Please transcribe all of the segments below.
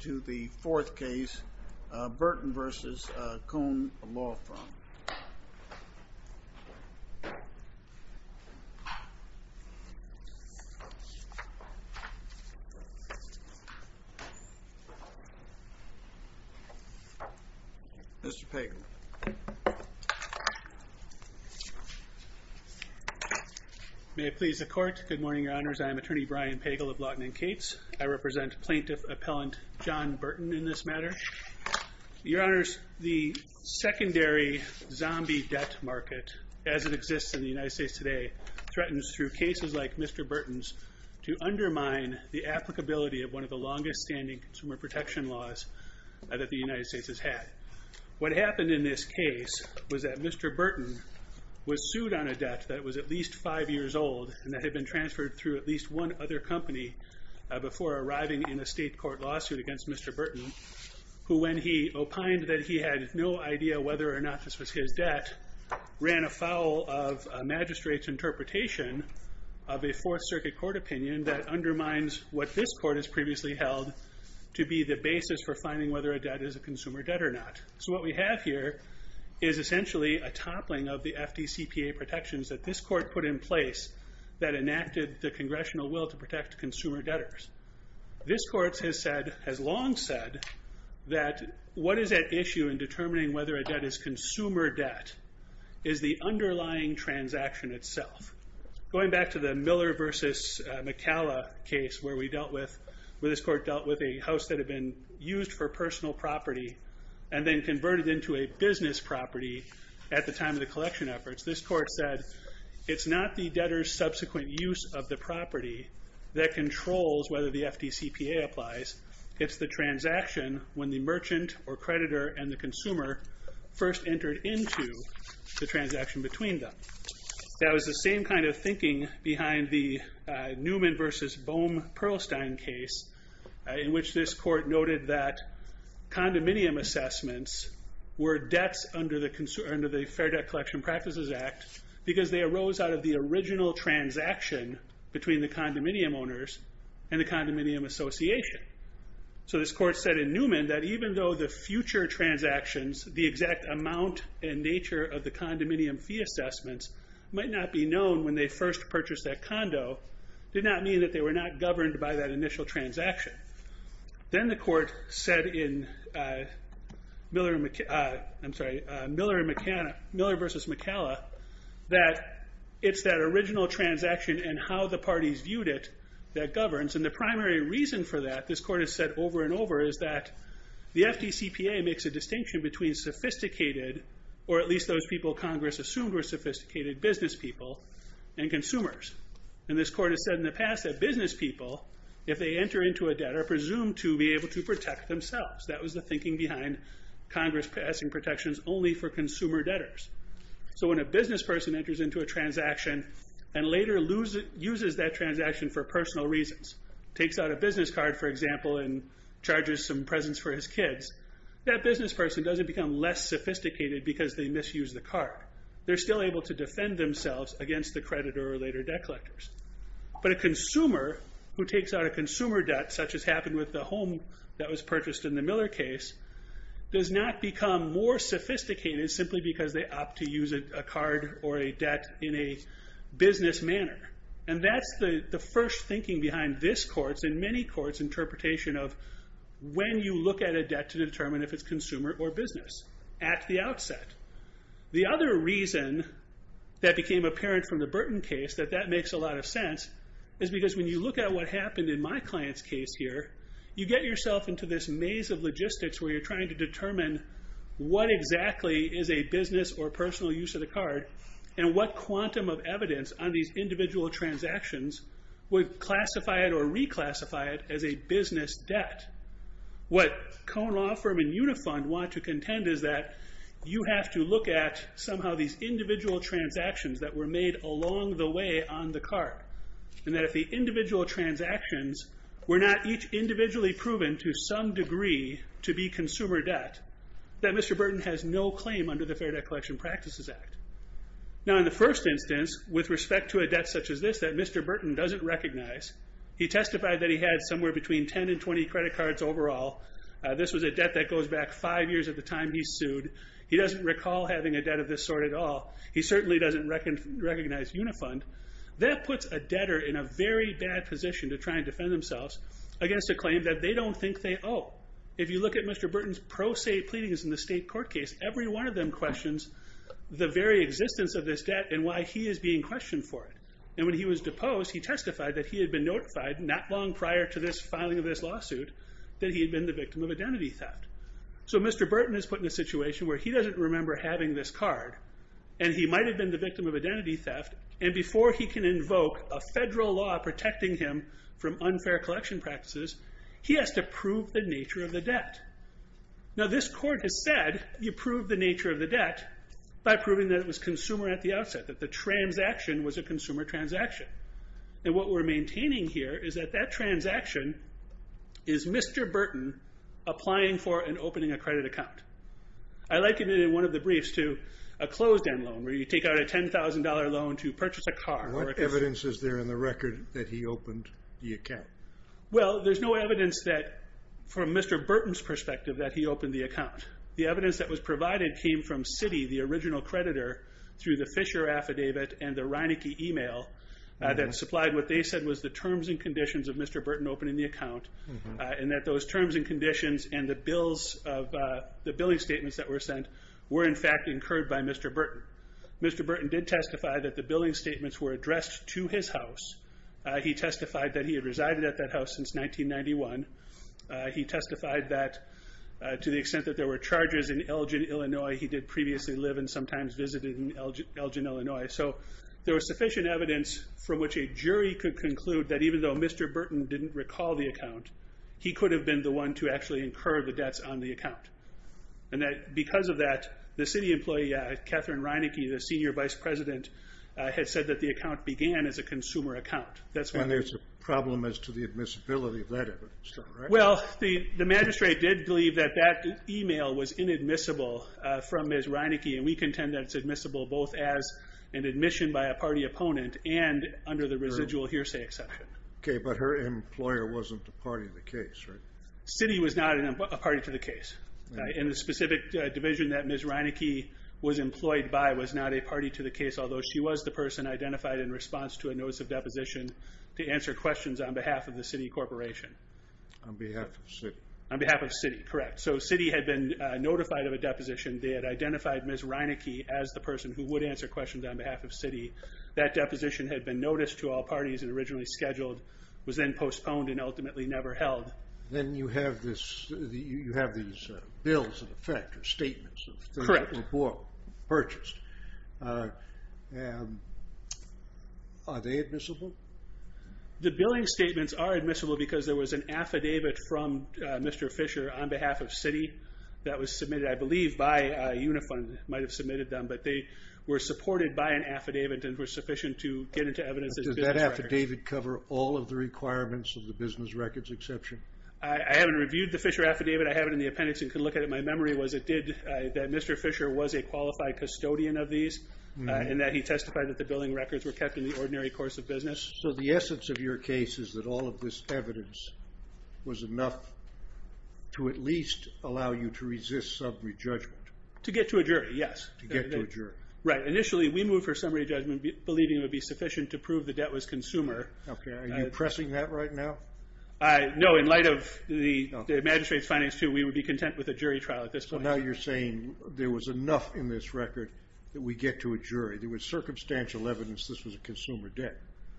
to the fourth case, Burton v. Kohn Law Firm. Mr. Pagel. May it please the court, good morning in this matter. Your Honors, the secondary zombie debt market as it exists in the United States today threatens through cases like Mr. Burton's to undermine the applicability of one of the longest standing consumer protection laws that the United States has had. What happened in this case was that Mr. Burton was sued on a debt that was at least five years old and that had been transferred through at least one other company before arriving in a state court lawsuit against Mr. Burton, who when he opined that he had no idea whether or not this was his debt, ran afoul of a magistrate's interpretation of a fourth circuit court opinion that undermines what this court has previously held to be the basis for finding whether a debt is a consumer debt or not. So what we have here is essentially a toppling of the FDCPA protections that this court put in place that enacted the congressional will to protect consumer debtors. This court has long said that what is at issue in determining whether a debt is consumer debt is the underlying transaction itself. Going back to the Miller versus McCalla case where this court dealt with a house that had been used for personal property and then converted into a business property at the time of the collection efforts, this court said it's not the debtor's subsequent use of the property that controls whether the FDCPA applies, it's the transaction when the merchant or creditor and the consumer first entered into the transaction between them. That was the same kind of thinking behind the Newman versus Bohm-Perlstein case in which this court noted that condominium assessments were debts under the Fair Debt Collection Practices Act because they arose out of the original transaction between the condominium owners and the condominium association. So this court said in Newman that even though the future transactions, the exact amount and nature of the condominium fee assessments might not be known when they first purchased that condo, did not mean that they were not governed by that initial transaction. Then the court said in Miller versus McCalla that it's that original transaction and how the parties viewed it that governs. And the primary reason for that, this court has said over and over, is that the FDCPA makes a distinction between sophisticated, or at least those people Congress assumed were sophisticated, business people and consumers. And this court has said in the past that business people, if they enter into a debt, are presumed to be able to protect themselves. That was the thinking behind Congress passing protections only for consumer debtors. So when a business person enters into a transaction and later uses that transaction for personal reasons, takes out a business card, for example, and charges some presents for his kids, that business person doesn't become less sophisticated because they misused the card. They're still able to defend themselves against the creditor or later debt collectors. But a consumer who takes out a consumer debt, such as happened with the home that was purchased in the Miller case, does not become more sophisticated simply because they opt to use a card or a debt in a business manner. And that's the first thinking behind this court's and many courts' interpretation of when you look at a debt to determine if it's consumer or business, at the outset. The other reason that became apparent from the Burton case, that that makes a lot of sense, is because when you look at what happened in my client's case here, you get yourself into this maze of logistics where you're trying to determine what exactly is a business or personal use of the card, and what quantum of evidence on these individual transactions would classify it or reclassify it as a business debt. What Cohen Law Firm and Unifund want to contend is that you have to look at somehow these individual transactions that were made along the way on the card. And that if the individual transactions were not each individually proven to some degree to be consumer debt, that Mr. Burton has no claim under the Fair Debt Collection Practices Act. Now in the first instance, with respect to a debt such as this that Mr. Burton doesn't recognize, he testified that he had somewhere between 10 and 20 credit cards overall. This was a debt that goes back five years at the time he sued. He doesn't recall having a debt of this sort at all. He certainly doesn't recognize Unifund. That puts a debtor in a very bad position to try and defend themselves against a claim that they don't think they owe. If you look at Mr. Burton's pro se pleadings in the state court case, every one of them questions the very existence of this debt and why he is being questioned for it. And when he was deposed, he testified that he had been notified not long prior to this filing of this lawsuit that he had been the victim of identity theft. So Mr. Burton is put in a situation where he doesn't remember having this card, and he might have been the victim of identity theft, and before he can invoke a federal law protecting him from unfair collection practices, he has to prove the nature of the debt. Now this court has said you prove the nature of the debt by proving that it was consumer at the outset, that the transaction was a consumer transaction. And what we're maintaining here is that that transaction is Mr. Burton applying for and opening a credit account. I liken it in one of the briefs to a closed end loan where you take out a $10,000 loan to purchase a car. What evidence is there in the record that he opened the account? Well, there's no evidence that from Mr. Burton's perspective that he opened the account. The evidence that was provided came from Citi, the original creditor, through the Fisher affidavit and the Reinecke email that supplied what they said was the terms and conditions of Mr. Burton opening the account, and that those terms and conditions and the bills of the billing statements that were sent were in fact incurred by Mr. Burton. Mr. Burton did testify that the billing statements were addressed to his house. He testified that he had resided at that house since 1991. He testified that to the extent that there were charges in Elgin, Illinois, he did previously live and sometimes visited in Elgin, Illinois. So there was sufficient evidence from which a jury could conclude that even though Mr. Burton didn't recall the account, he could have been the one to actually incur the debts on the account. And that because of that, the Citi employee, Catherine Reinecke, the senior vice president, had said that the account began as a consumer account. And there's a problem as to the admissibility of that evidence, right? Well, the magistrate did believe that that email was inadmissible from Ms. Reinecke, and we contend that it's admissible both as an admission by a party opponent and under the residual hearsay exception. Okay, but her employer wasn't a party to the case, right? Citi was not a party to the case. And the specific division that Ms. Reinecke was employed by was not a party to the case, although she was the person identified in response to a notice of deposition to answer questions on behalf of the Citi Corporation. On behalf of Citi. On behalf of Citi, correct. So Citi had been notified of a deposition. They had Ms. Reinecke as the person who would answer questions on behalf of Citi. That deposition had been noticed to all parties and originally scheduled, was then postponed and ultimately never held. Then you have this, you have these bills in effect, or statements. Correct. Purchased. Are they admissible? The billing statements are admissible because there was an affidavit from Mr. Fisher on behalf of Citi that was submitted, I believe, by Unifund. Might have submitted them, but they were supported by an affidavit and were sufficient to get into evidence as business records. Does that affidavit cover all of the requirements of the business records exception? I haven't reviewed the Fisher affidavit. I have it in the appendix and could look at it. My memory was it did, that Mr. Fisher was a qualified custodian of these and that he testified that the billing records were kept in the ordinary course of to at least allow you to resist summary judgment? To get to a jury, yes. To get to a jury. Initially we moved for summary judgment believing it would be sufficient to prove the debt was consumer. Are you pressing that right now? No, in light of the magistrate's findings too, we would be content with a jury trial at this point. Now you're saying there was enough in this record that we get to a jury. There was circumstantial evidence this was a consumer debt.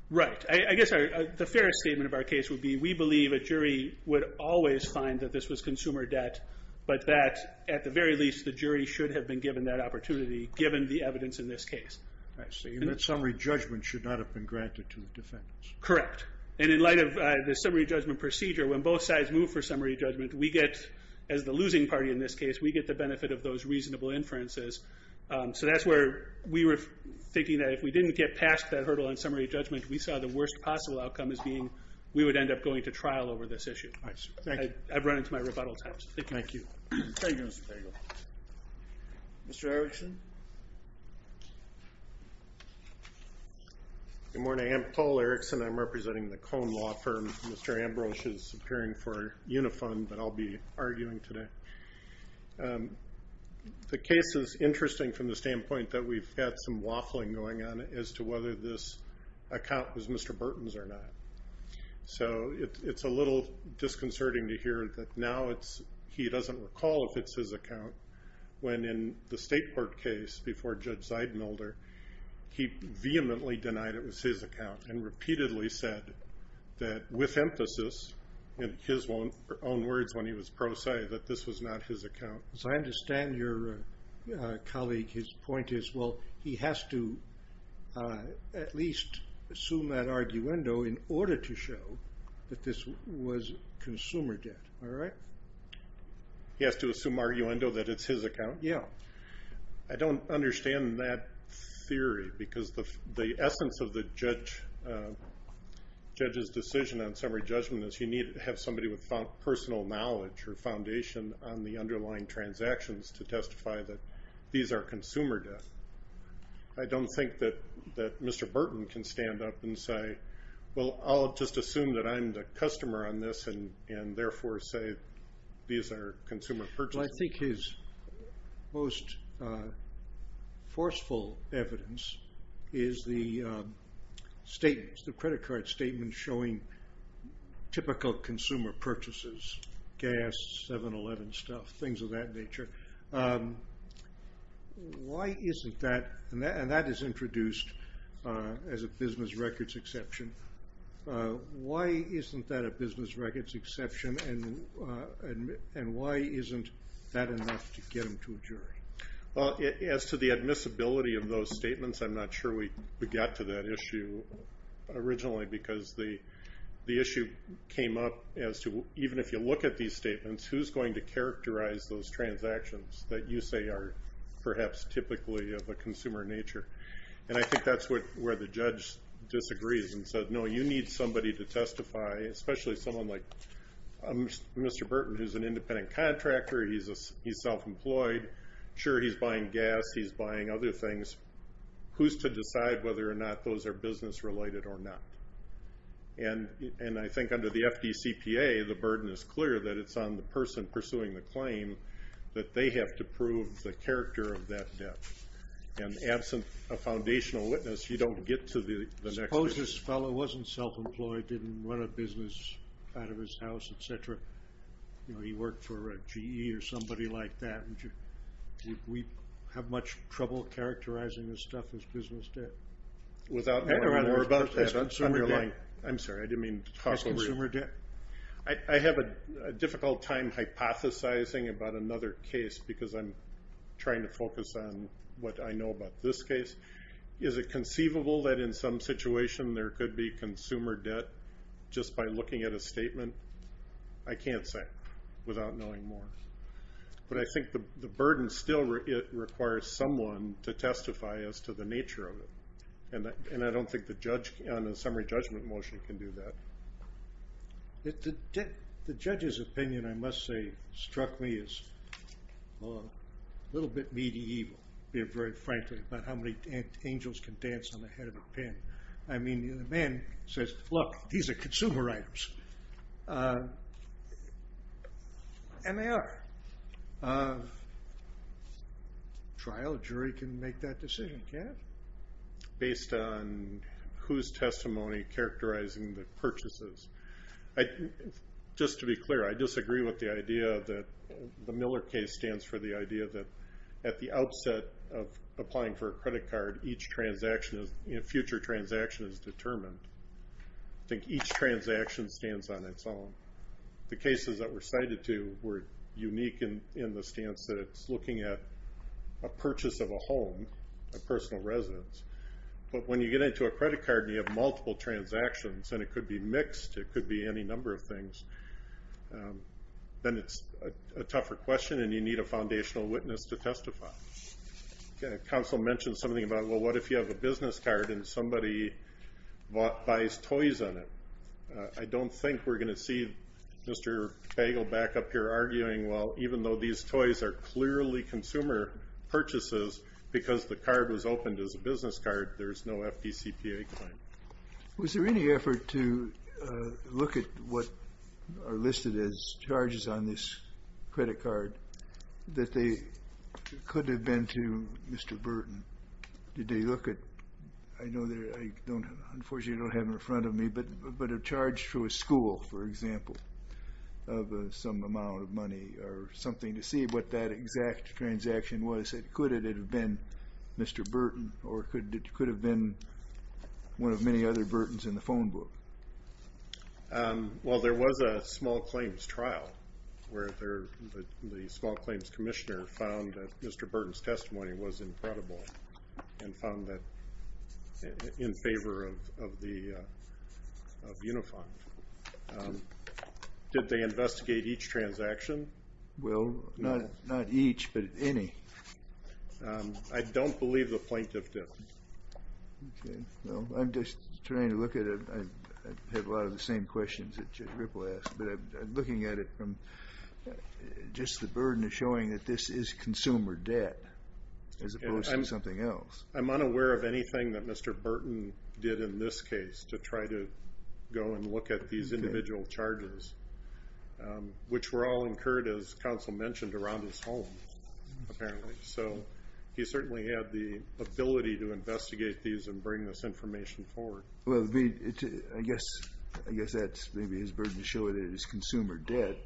Right. I guess the fairest statement of our case would be we believe a jury would always find that this was consumer debt, but that at the very least the jury should have been given that opportunity given the evidence in this case. I see. And that summary judgment should not have been granted to defendants. Correct. And in light of the summary judgment procedure, when both sides move for summary judgment, we get, as the losing party in this case, we get the benefit of those reasonable inferences. So that's where we were thinking that if we didn't get past that hurdle in summary judgment, we saw the worst possible outcome as being we would end up going to trial over this issue. I've run into my rebuttal times. Thank you. Mr. Erickson? Good morning. I'm Paul Erickson. I'm representing the Cone Law Firm. Mr. Ambrose is appearing for Unifund, but I'll be arguing today. The case is interesting from the standpoint that we've got some waffling going on as to whether this account was Mr. Burton's or not. So it's a little disconcerting to hear that now it's, he doesn't recall if it's his account, when in the state court case before Judge Zeidmelder, he vehemently denied it was his account and repeatedly said that with emphasis, in his own words when he was pro se, that this was not his account. As I understand your colleague, his point is, well, he has to at least assume that arguendo in order to show that this was consumer debt. All right? He has to assume arguendo that it's his account? Yeah. I don't understand that theory because the essence of the judge's decision on summary judgment is you need to have somebody with personal knowledge or I don't think that Mr. Burton can stand up and say, well, I'll just assume that I'm the customer on this and therefore say these are consumer purchases. Well, I think his most forceful evidence is the state, the credit card statement showing typical consumer purchases, gas, 7-Eleven stuff, things of that nature. Why isn't that, and that is introduced as a business records exception, why isn't that a business records exception and why isn't that enough to get him to a jury? Well, as to the admissibility of those statements, I'm not sure we got to that issue originally because the issue came up as to even if you look at these statements, who's going to characterize those transactions that you say are perhaps typically of a consumer nature? And I think that's where the judge disagrees and says, no, you need somebody to testify, especially someone like Mr. Burton who's an independent contractor, he's self-employed, sure he's buying gas, he's buying other things, who's to decide whether or not those are business related or not? And I think under the FDCPA, the burden is clear that it's on the person pursuing the claim that they have to prove the character of that debt. And absent a foundational witness, you don't get to the next one. Suppose this fellow wasn't self-employed, didn't run a business out of his house, etc., you know, he worked for a GE or somebody like that, would we have much trouble characterizing this stuff as business debt? I have a difficult time hypothesizing about another case because I'm trying to focus on what I know about this case. Is it conceivable that in some situation there could be consumer debt just by looking at a statement? I can't say without knowing more. But I think the burden still requires someone to testify as to the nature of it. And I don't think the judge on a summary judgment motion can do that. The judge's opinion, I must say, struck me as a little bit medieval, very frankly, about how many angels can dance on the head of a pen. I mean, the man says, look, these are consumer items. And they are. A trial jury can make that decision, can't they? Based on whose testimony characterizing the purchases? Just to be clear, I disagree with the idea that the Miller case stands for the idea that at the outset of applying for a credit card, each future transaction is determined. I think each transaction stands on its own. The cases that were cited to were unique in the stance that it's looking at a purchase of a home, a personal residence. But when you get into a credit card and you have multiple transactions, and it could be mixed, it could be any number of things, then it's a tougher question and you need a foundational witness to testify. Counsel mentioned something about, well, what if you have a business card and somebody buys toys on it? I don't think we're going to see Mr. Bagel back up here arguing, well, even though these toys are clearly consumer purchases, because the card was opened as a business card, there's no FDCPA claim. Was there any effort to look at what are listed as charges on this credit card that they could have been to Mr. Burton? Did they look at, I know that I don't, unfortunately I don't have it in front of me, but a charge through a school, for example, of some amount of money or something to see what that exact transaction was. Could it have been Mr. Burton, or could it have been one of many other Burtons in the phone book? Well, there was a small claims trial where the small claims commissioner found that Mr. Burton's testimony was incredible and found that in favor of Unifond. Did they investigate each transaction? Well, not each, but any. I don't believe the plaintiff did. Okay, well, I'm just trying to look at it, I have a lot of the same questions that Chip Ripple asked, but I'm looking at it from just the burden of showing that this is consumer debt as opposed to something else. I'm unaware of anything that Mr. Burton did in this case to try to go and look at these individual charges, which were all incurred, as counsel mentioned, around his home, apparently. So he certainly had the ability to investigate these and bring this information forward. Well, I guess that's maybe his burden to show that it is consumer debt,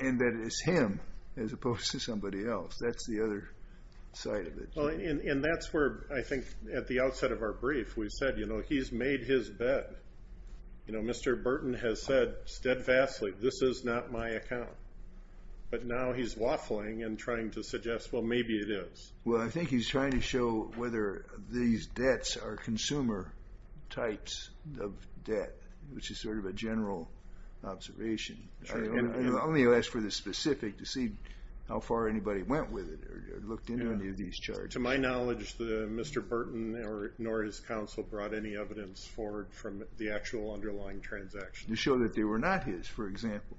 and that it is him as opposed to somebody else. That's the other side of it. And that's where, I think, at the outset of our brief, we said, you know, he's made his bet. You know, Mr. Burton has said steadfastly, this is not my account. But now he's waffling and trying to suggest, well, maybe it is. Well, I think he's trying to show whether these debts are consumer types of debt, which is sort of a general observation. Let me ask for the specific to see how far anybody went with it or looked into any of these charges. To my knowledge, Mr. Burton, nor his counsel, brought any evidence forward from the actual underlying transaction. To show that they were not his, for example.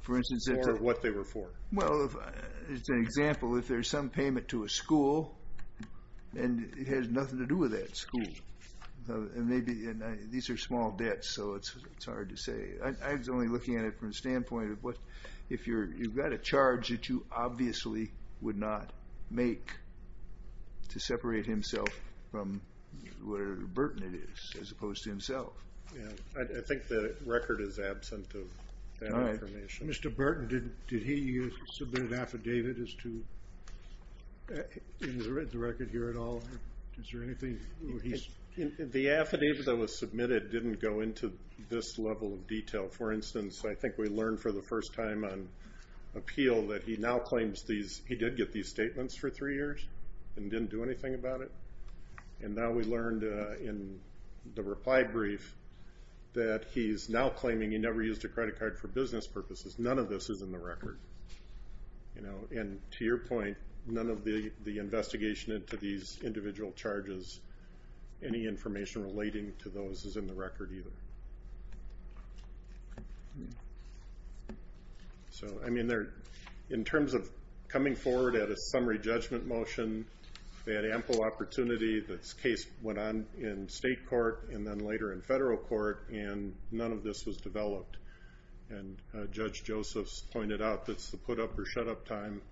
For instance, what they were for. Well, as an example, if there's some payment to a school, and it has nothing to do with that school. And maybe these are small debts, so it's hard to say. I was only looking at it from the standpoint of what, if you've got a charge that you obviously would not make. To separate himself from where Burton is, as opposed to himself. Yeah, I think the record is absent of that information. Mr. Burton, did he submit an affidavit as to, has he written the record here at all? Is there anything? The affidavit that was submitted didn't go into this level of detail. For instance, I think we learned for the first time on appeal that he now claims these, he did get these statements for three years. And didn't do anything about it. And now we learned in the reply brief that he's now claiming he never used a credit card for business purposes. None of this is in the record. And to your point, none of the investigation into these individual charges, any information relating to those is in the record either. So, I mean, in terms of coming forward at a summary judgment motion, they had ample opportunity. This case went on in state court and then later in federal court and none of this was developed. And Judge Joseph's pointed out that's the put up or shut up time.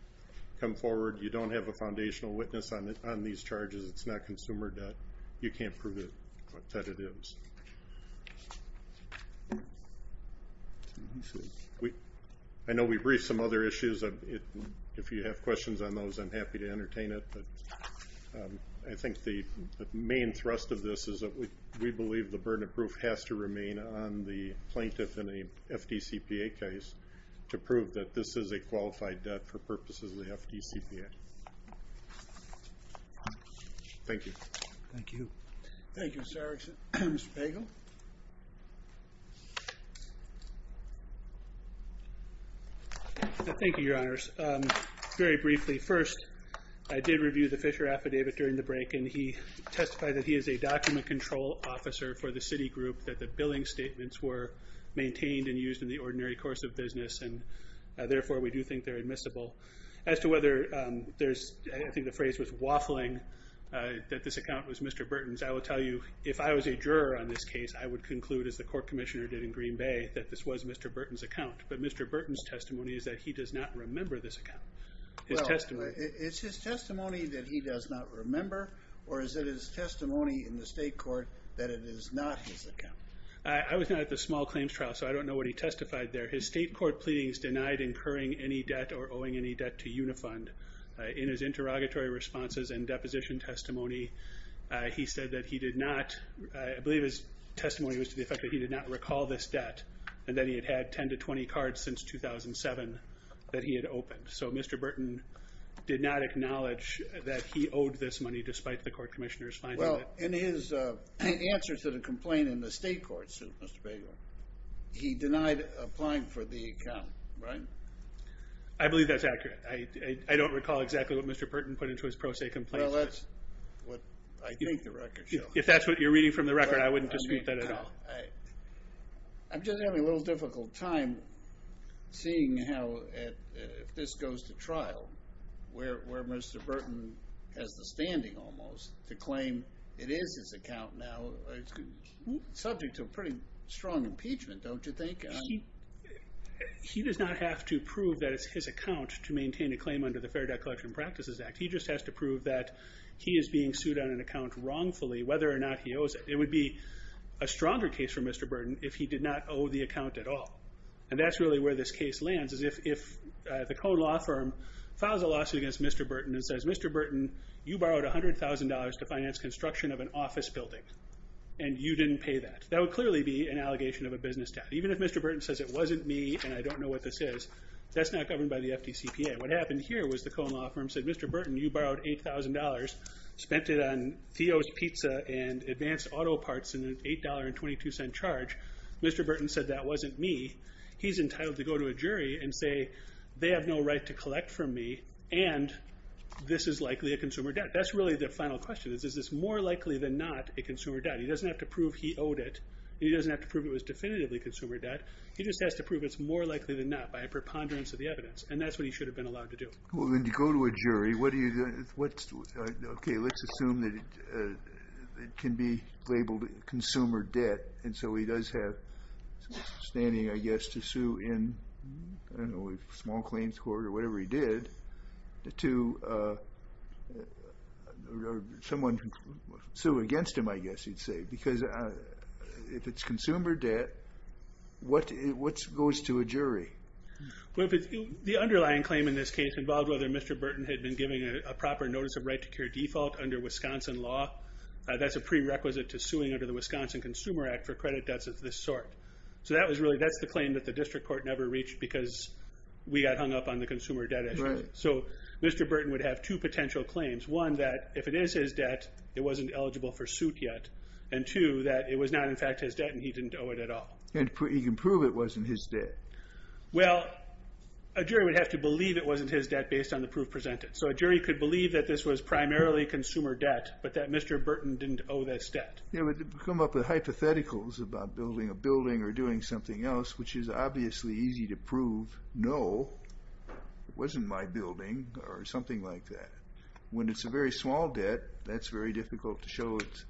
Come forward, you don't have a foundational witness on these charges. It's not consumer debt. You can't prove that it is. I know we briefed some other issues. If you have questions on those, I'm happy to entertain it. But I think the main thrust of this is that we believe the burden of proof has to remain on the plaintiff in a FDCPA case to prove that this is a qualified debt for purposes of the FDCPA. Thank you. Thank you. Thank you, Sir. Mr. Bagel. Thank you, your honors. Very briefly, first, I did review the Fisher affidavit during the break and he testified that he is a document control officer for the city group that the billing statements were maintained and used in the ordinary course of business. And therefore, we do think they're admissible. As to whether there's, I think the phrase was waffling, that this account was Mr. Burton's. I will tell you, if I was a juror on this case, I would conclude, as the court commissioner did in Green Bay, that this was Mr. Burton's account. But Mr. Burton's testimony is that he does not remember this account. Well, it's his testimony that he does not remember? Or is it his testimony in the state court that it is not his account? I was not at the small claims trial, so I don't know what he testified there. His state court pleadings denied incurring any debt or owing any debt to Unifund. In his interrogatory responses and deposition testimony, he said that he did not, I believe his testimony was to the effect that he did not recall this debt. And that he had had 10 to 20 cards since 2007 that he had opened. So Mr. Burton did not acknowledge that he owed this money, despite the court commissioner's finding that. Well, in his answer to the complaint in the state court suit, Mr. Bader, he denied applying for the account, right? I believe that's accurate. I don't recall exactly what Mr. Burton put into his pro se complaint. Well, that's what I think the record shows. If that's what you're reading from the record, I wouldn't dispute that at all. I'm just having a little difficult time seeing how, if this goes to trial, where Mr. Burton has the standing almost to claim it is his account now, subject to a pretty strong impeachment, don't you think? He does not have to prove that it's his account to maintain a claim under the Fair Debt Collection Practices Act. He just has to prove that he is being sued on an account wrongfully, whether or not he owes it. It would be a stronger case for Mr. Burton if he did not owe the account at all. And that's really where this case lands, is if the Cone Law Firm files a lawsuit against Mr. Burton and says, Mr. Burton, you borrowed $100,000 to finance construction of an office building, and you didn't pay that. That would clearly be an allegation of a business tax. Even if Mr. Burton says it wasn't me, and I don't know what this is, that's not governed by the FDCPA. What happened here was the Cone Law Firm said, Mr. Burton, you borrowed $8,000, spent it on Theo's Pizza and advanced auto parts in an $8.22 charge. Mr. Burton said that wasn't me. He's entitled to go to a jury and say, they have no right to collect from me, and this is likely a consumer debt. That's really the final question is, is this more likely than not a consumer debt? He doesn't have to prove he owed it. He doesn't have to prove it was definitively consumer debt. He just has to prove it's more likely than not by a preponderance of the evidence. And that's what he should have been allowed to do. Well, then you go to a jury. Okay, let's assume that it can be labeled consumer debt. And so he does have standing, I guess, to sue in, I don't know, a small claims court or whatever he did, to someone who sued against him, I guess you'd say. Because if it's consumer debt, what goes to a jury? Well, the underlying claim in this case involved whether Mr. Burton had been giving a proper notice of right to cure default under Wisconsin law. That's a prerequisite to suing under the Wisconsin Consumer Act for credit debts of this sort. So that's the claim that the district court never reached because we got hung up on the consumer debt issue. So Mr. Burton would have two potential claims. One, that if it is his debt, it wasn't eligible for suit yet. And two, that it was not, in fact, his debt and he didn't owe it at all. And he can prove it wasn't his debt. Well, a jury would have to believe it wasn't his debt based on the proof presented. So a jury could believe that this was primarily consumer debt, but that Mr. Burton didn't owe this debt. Yeah, but come up with hypotheticals about building a building or doing something else, which is obviously easy to prove. No, it wasn't my building or something like that. When it's a very small debt, that's very difficult to show it's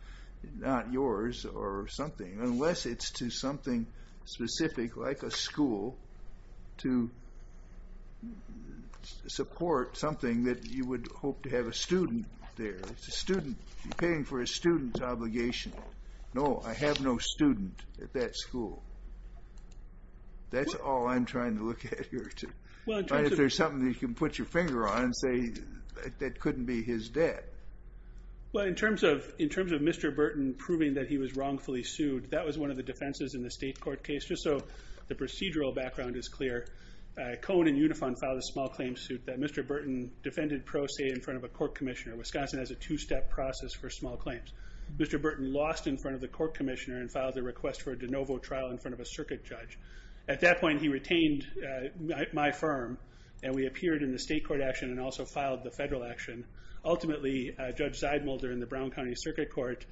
not yours or something, unless it's to something specific like a school to support something that you would hope to have a student there. It's a student. You're paying for a student's obligation. No, I have no student at that school. That's all I'm trying to look at here. If there's something that you can put your finger on and say, that couldn't be his debt. Well, in terms of Mr. Burton proving that he was wrongfully sued, that was one of the defenses in the state court case. Just so the procedural background is clear, Cone and Unifon filed a small claim suit that Mr. Burton defended pro se in front of a court commissioner. Wisconsin has a two-step process for small claims. Mr. Burton lost in front of the court commissioner and filed a request for a de novo trial in front of a circuit judge. At that point, he retained my firm, and we appeared in the state court action and also filed the federal action. Ultimately, Judge Zeidmuller in the Brown County Circuit Court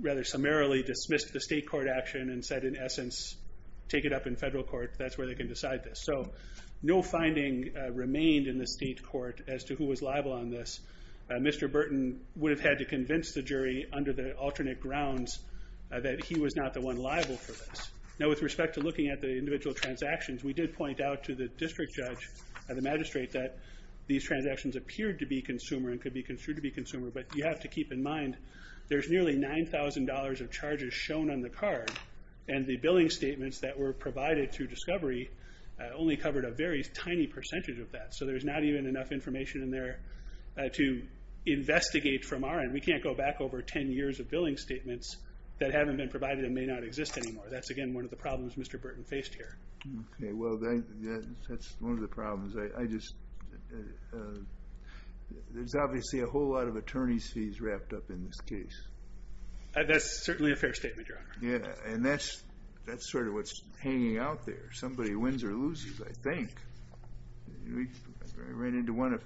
rather summarily dismissed the state court action and said, in essence, take it up in federal court. That's where they can decide this. So no finding remained in the state court as to who was liable on this. Mr. Burton would have had to convince the jury under the alternate grounds that he was not the one liable for this. Now, with respect to looking at the individual transactions, we did point out to the district judge and the magistrate that these transactions appeared to be consumer and could be construed to be consumer, but you have to keep in mind, there's nearly $9,000 of charges shown on the card, and the billing statements that were provided through discovery only covered a very tiny percentage of that. So there's not even enough information in there to investigate from our end. We can't go back over 10 years of billing statements that haven't been provided and may not exist anymore. That's, again, one of the problems Mr. Burton faced here. Okay, well, that's one of the problems. There's obviously a whole lot of attorney's fees wrapped up in this case. That's certainly a fair statement, Your Honor. Yeah, and that's sort of what's hanging out there. Somebody wins or loses, I think. We ran into one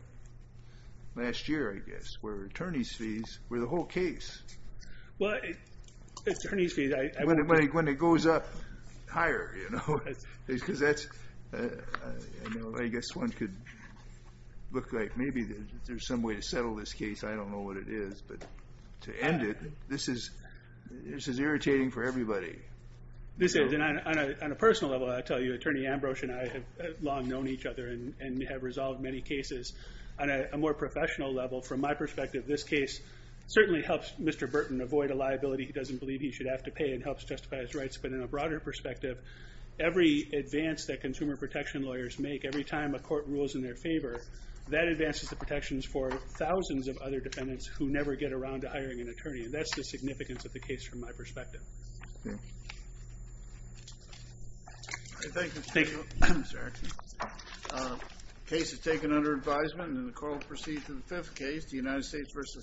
last year, I guess, where attorney's fees were the whole case. Well, attorney's fees... When it goes up higher, you know, because that's, I know, I guess one could look like maybe there's some way to settle this case. I don't know what it is, but to end it, this is irritating for everybody. This is, and on a personal level, I'll tell you, Attorney Ambrose and I have long known each other and we have resolved many cases. On a more professional level, from my perspective, this case certainly helps Mr. Burton avoid a liability he doesn't believe he should have to pay and helps justify his rights. But in a broader perspective, every advance that consumer protection lawyers make, every time a court rules in their favor, that advances the protections for thousands of other defendants who never get around to hiring an attorney. And that's the significance of the case from my perspective. Thank you. Thank you, Mr. Erickson. Case is taken under advisement and the court will proceed to the fifth case, the United States versus...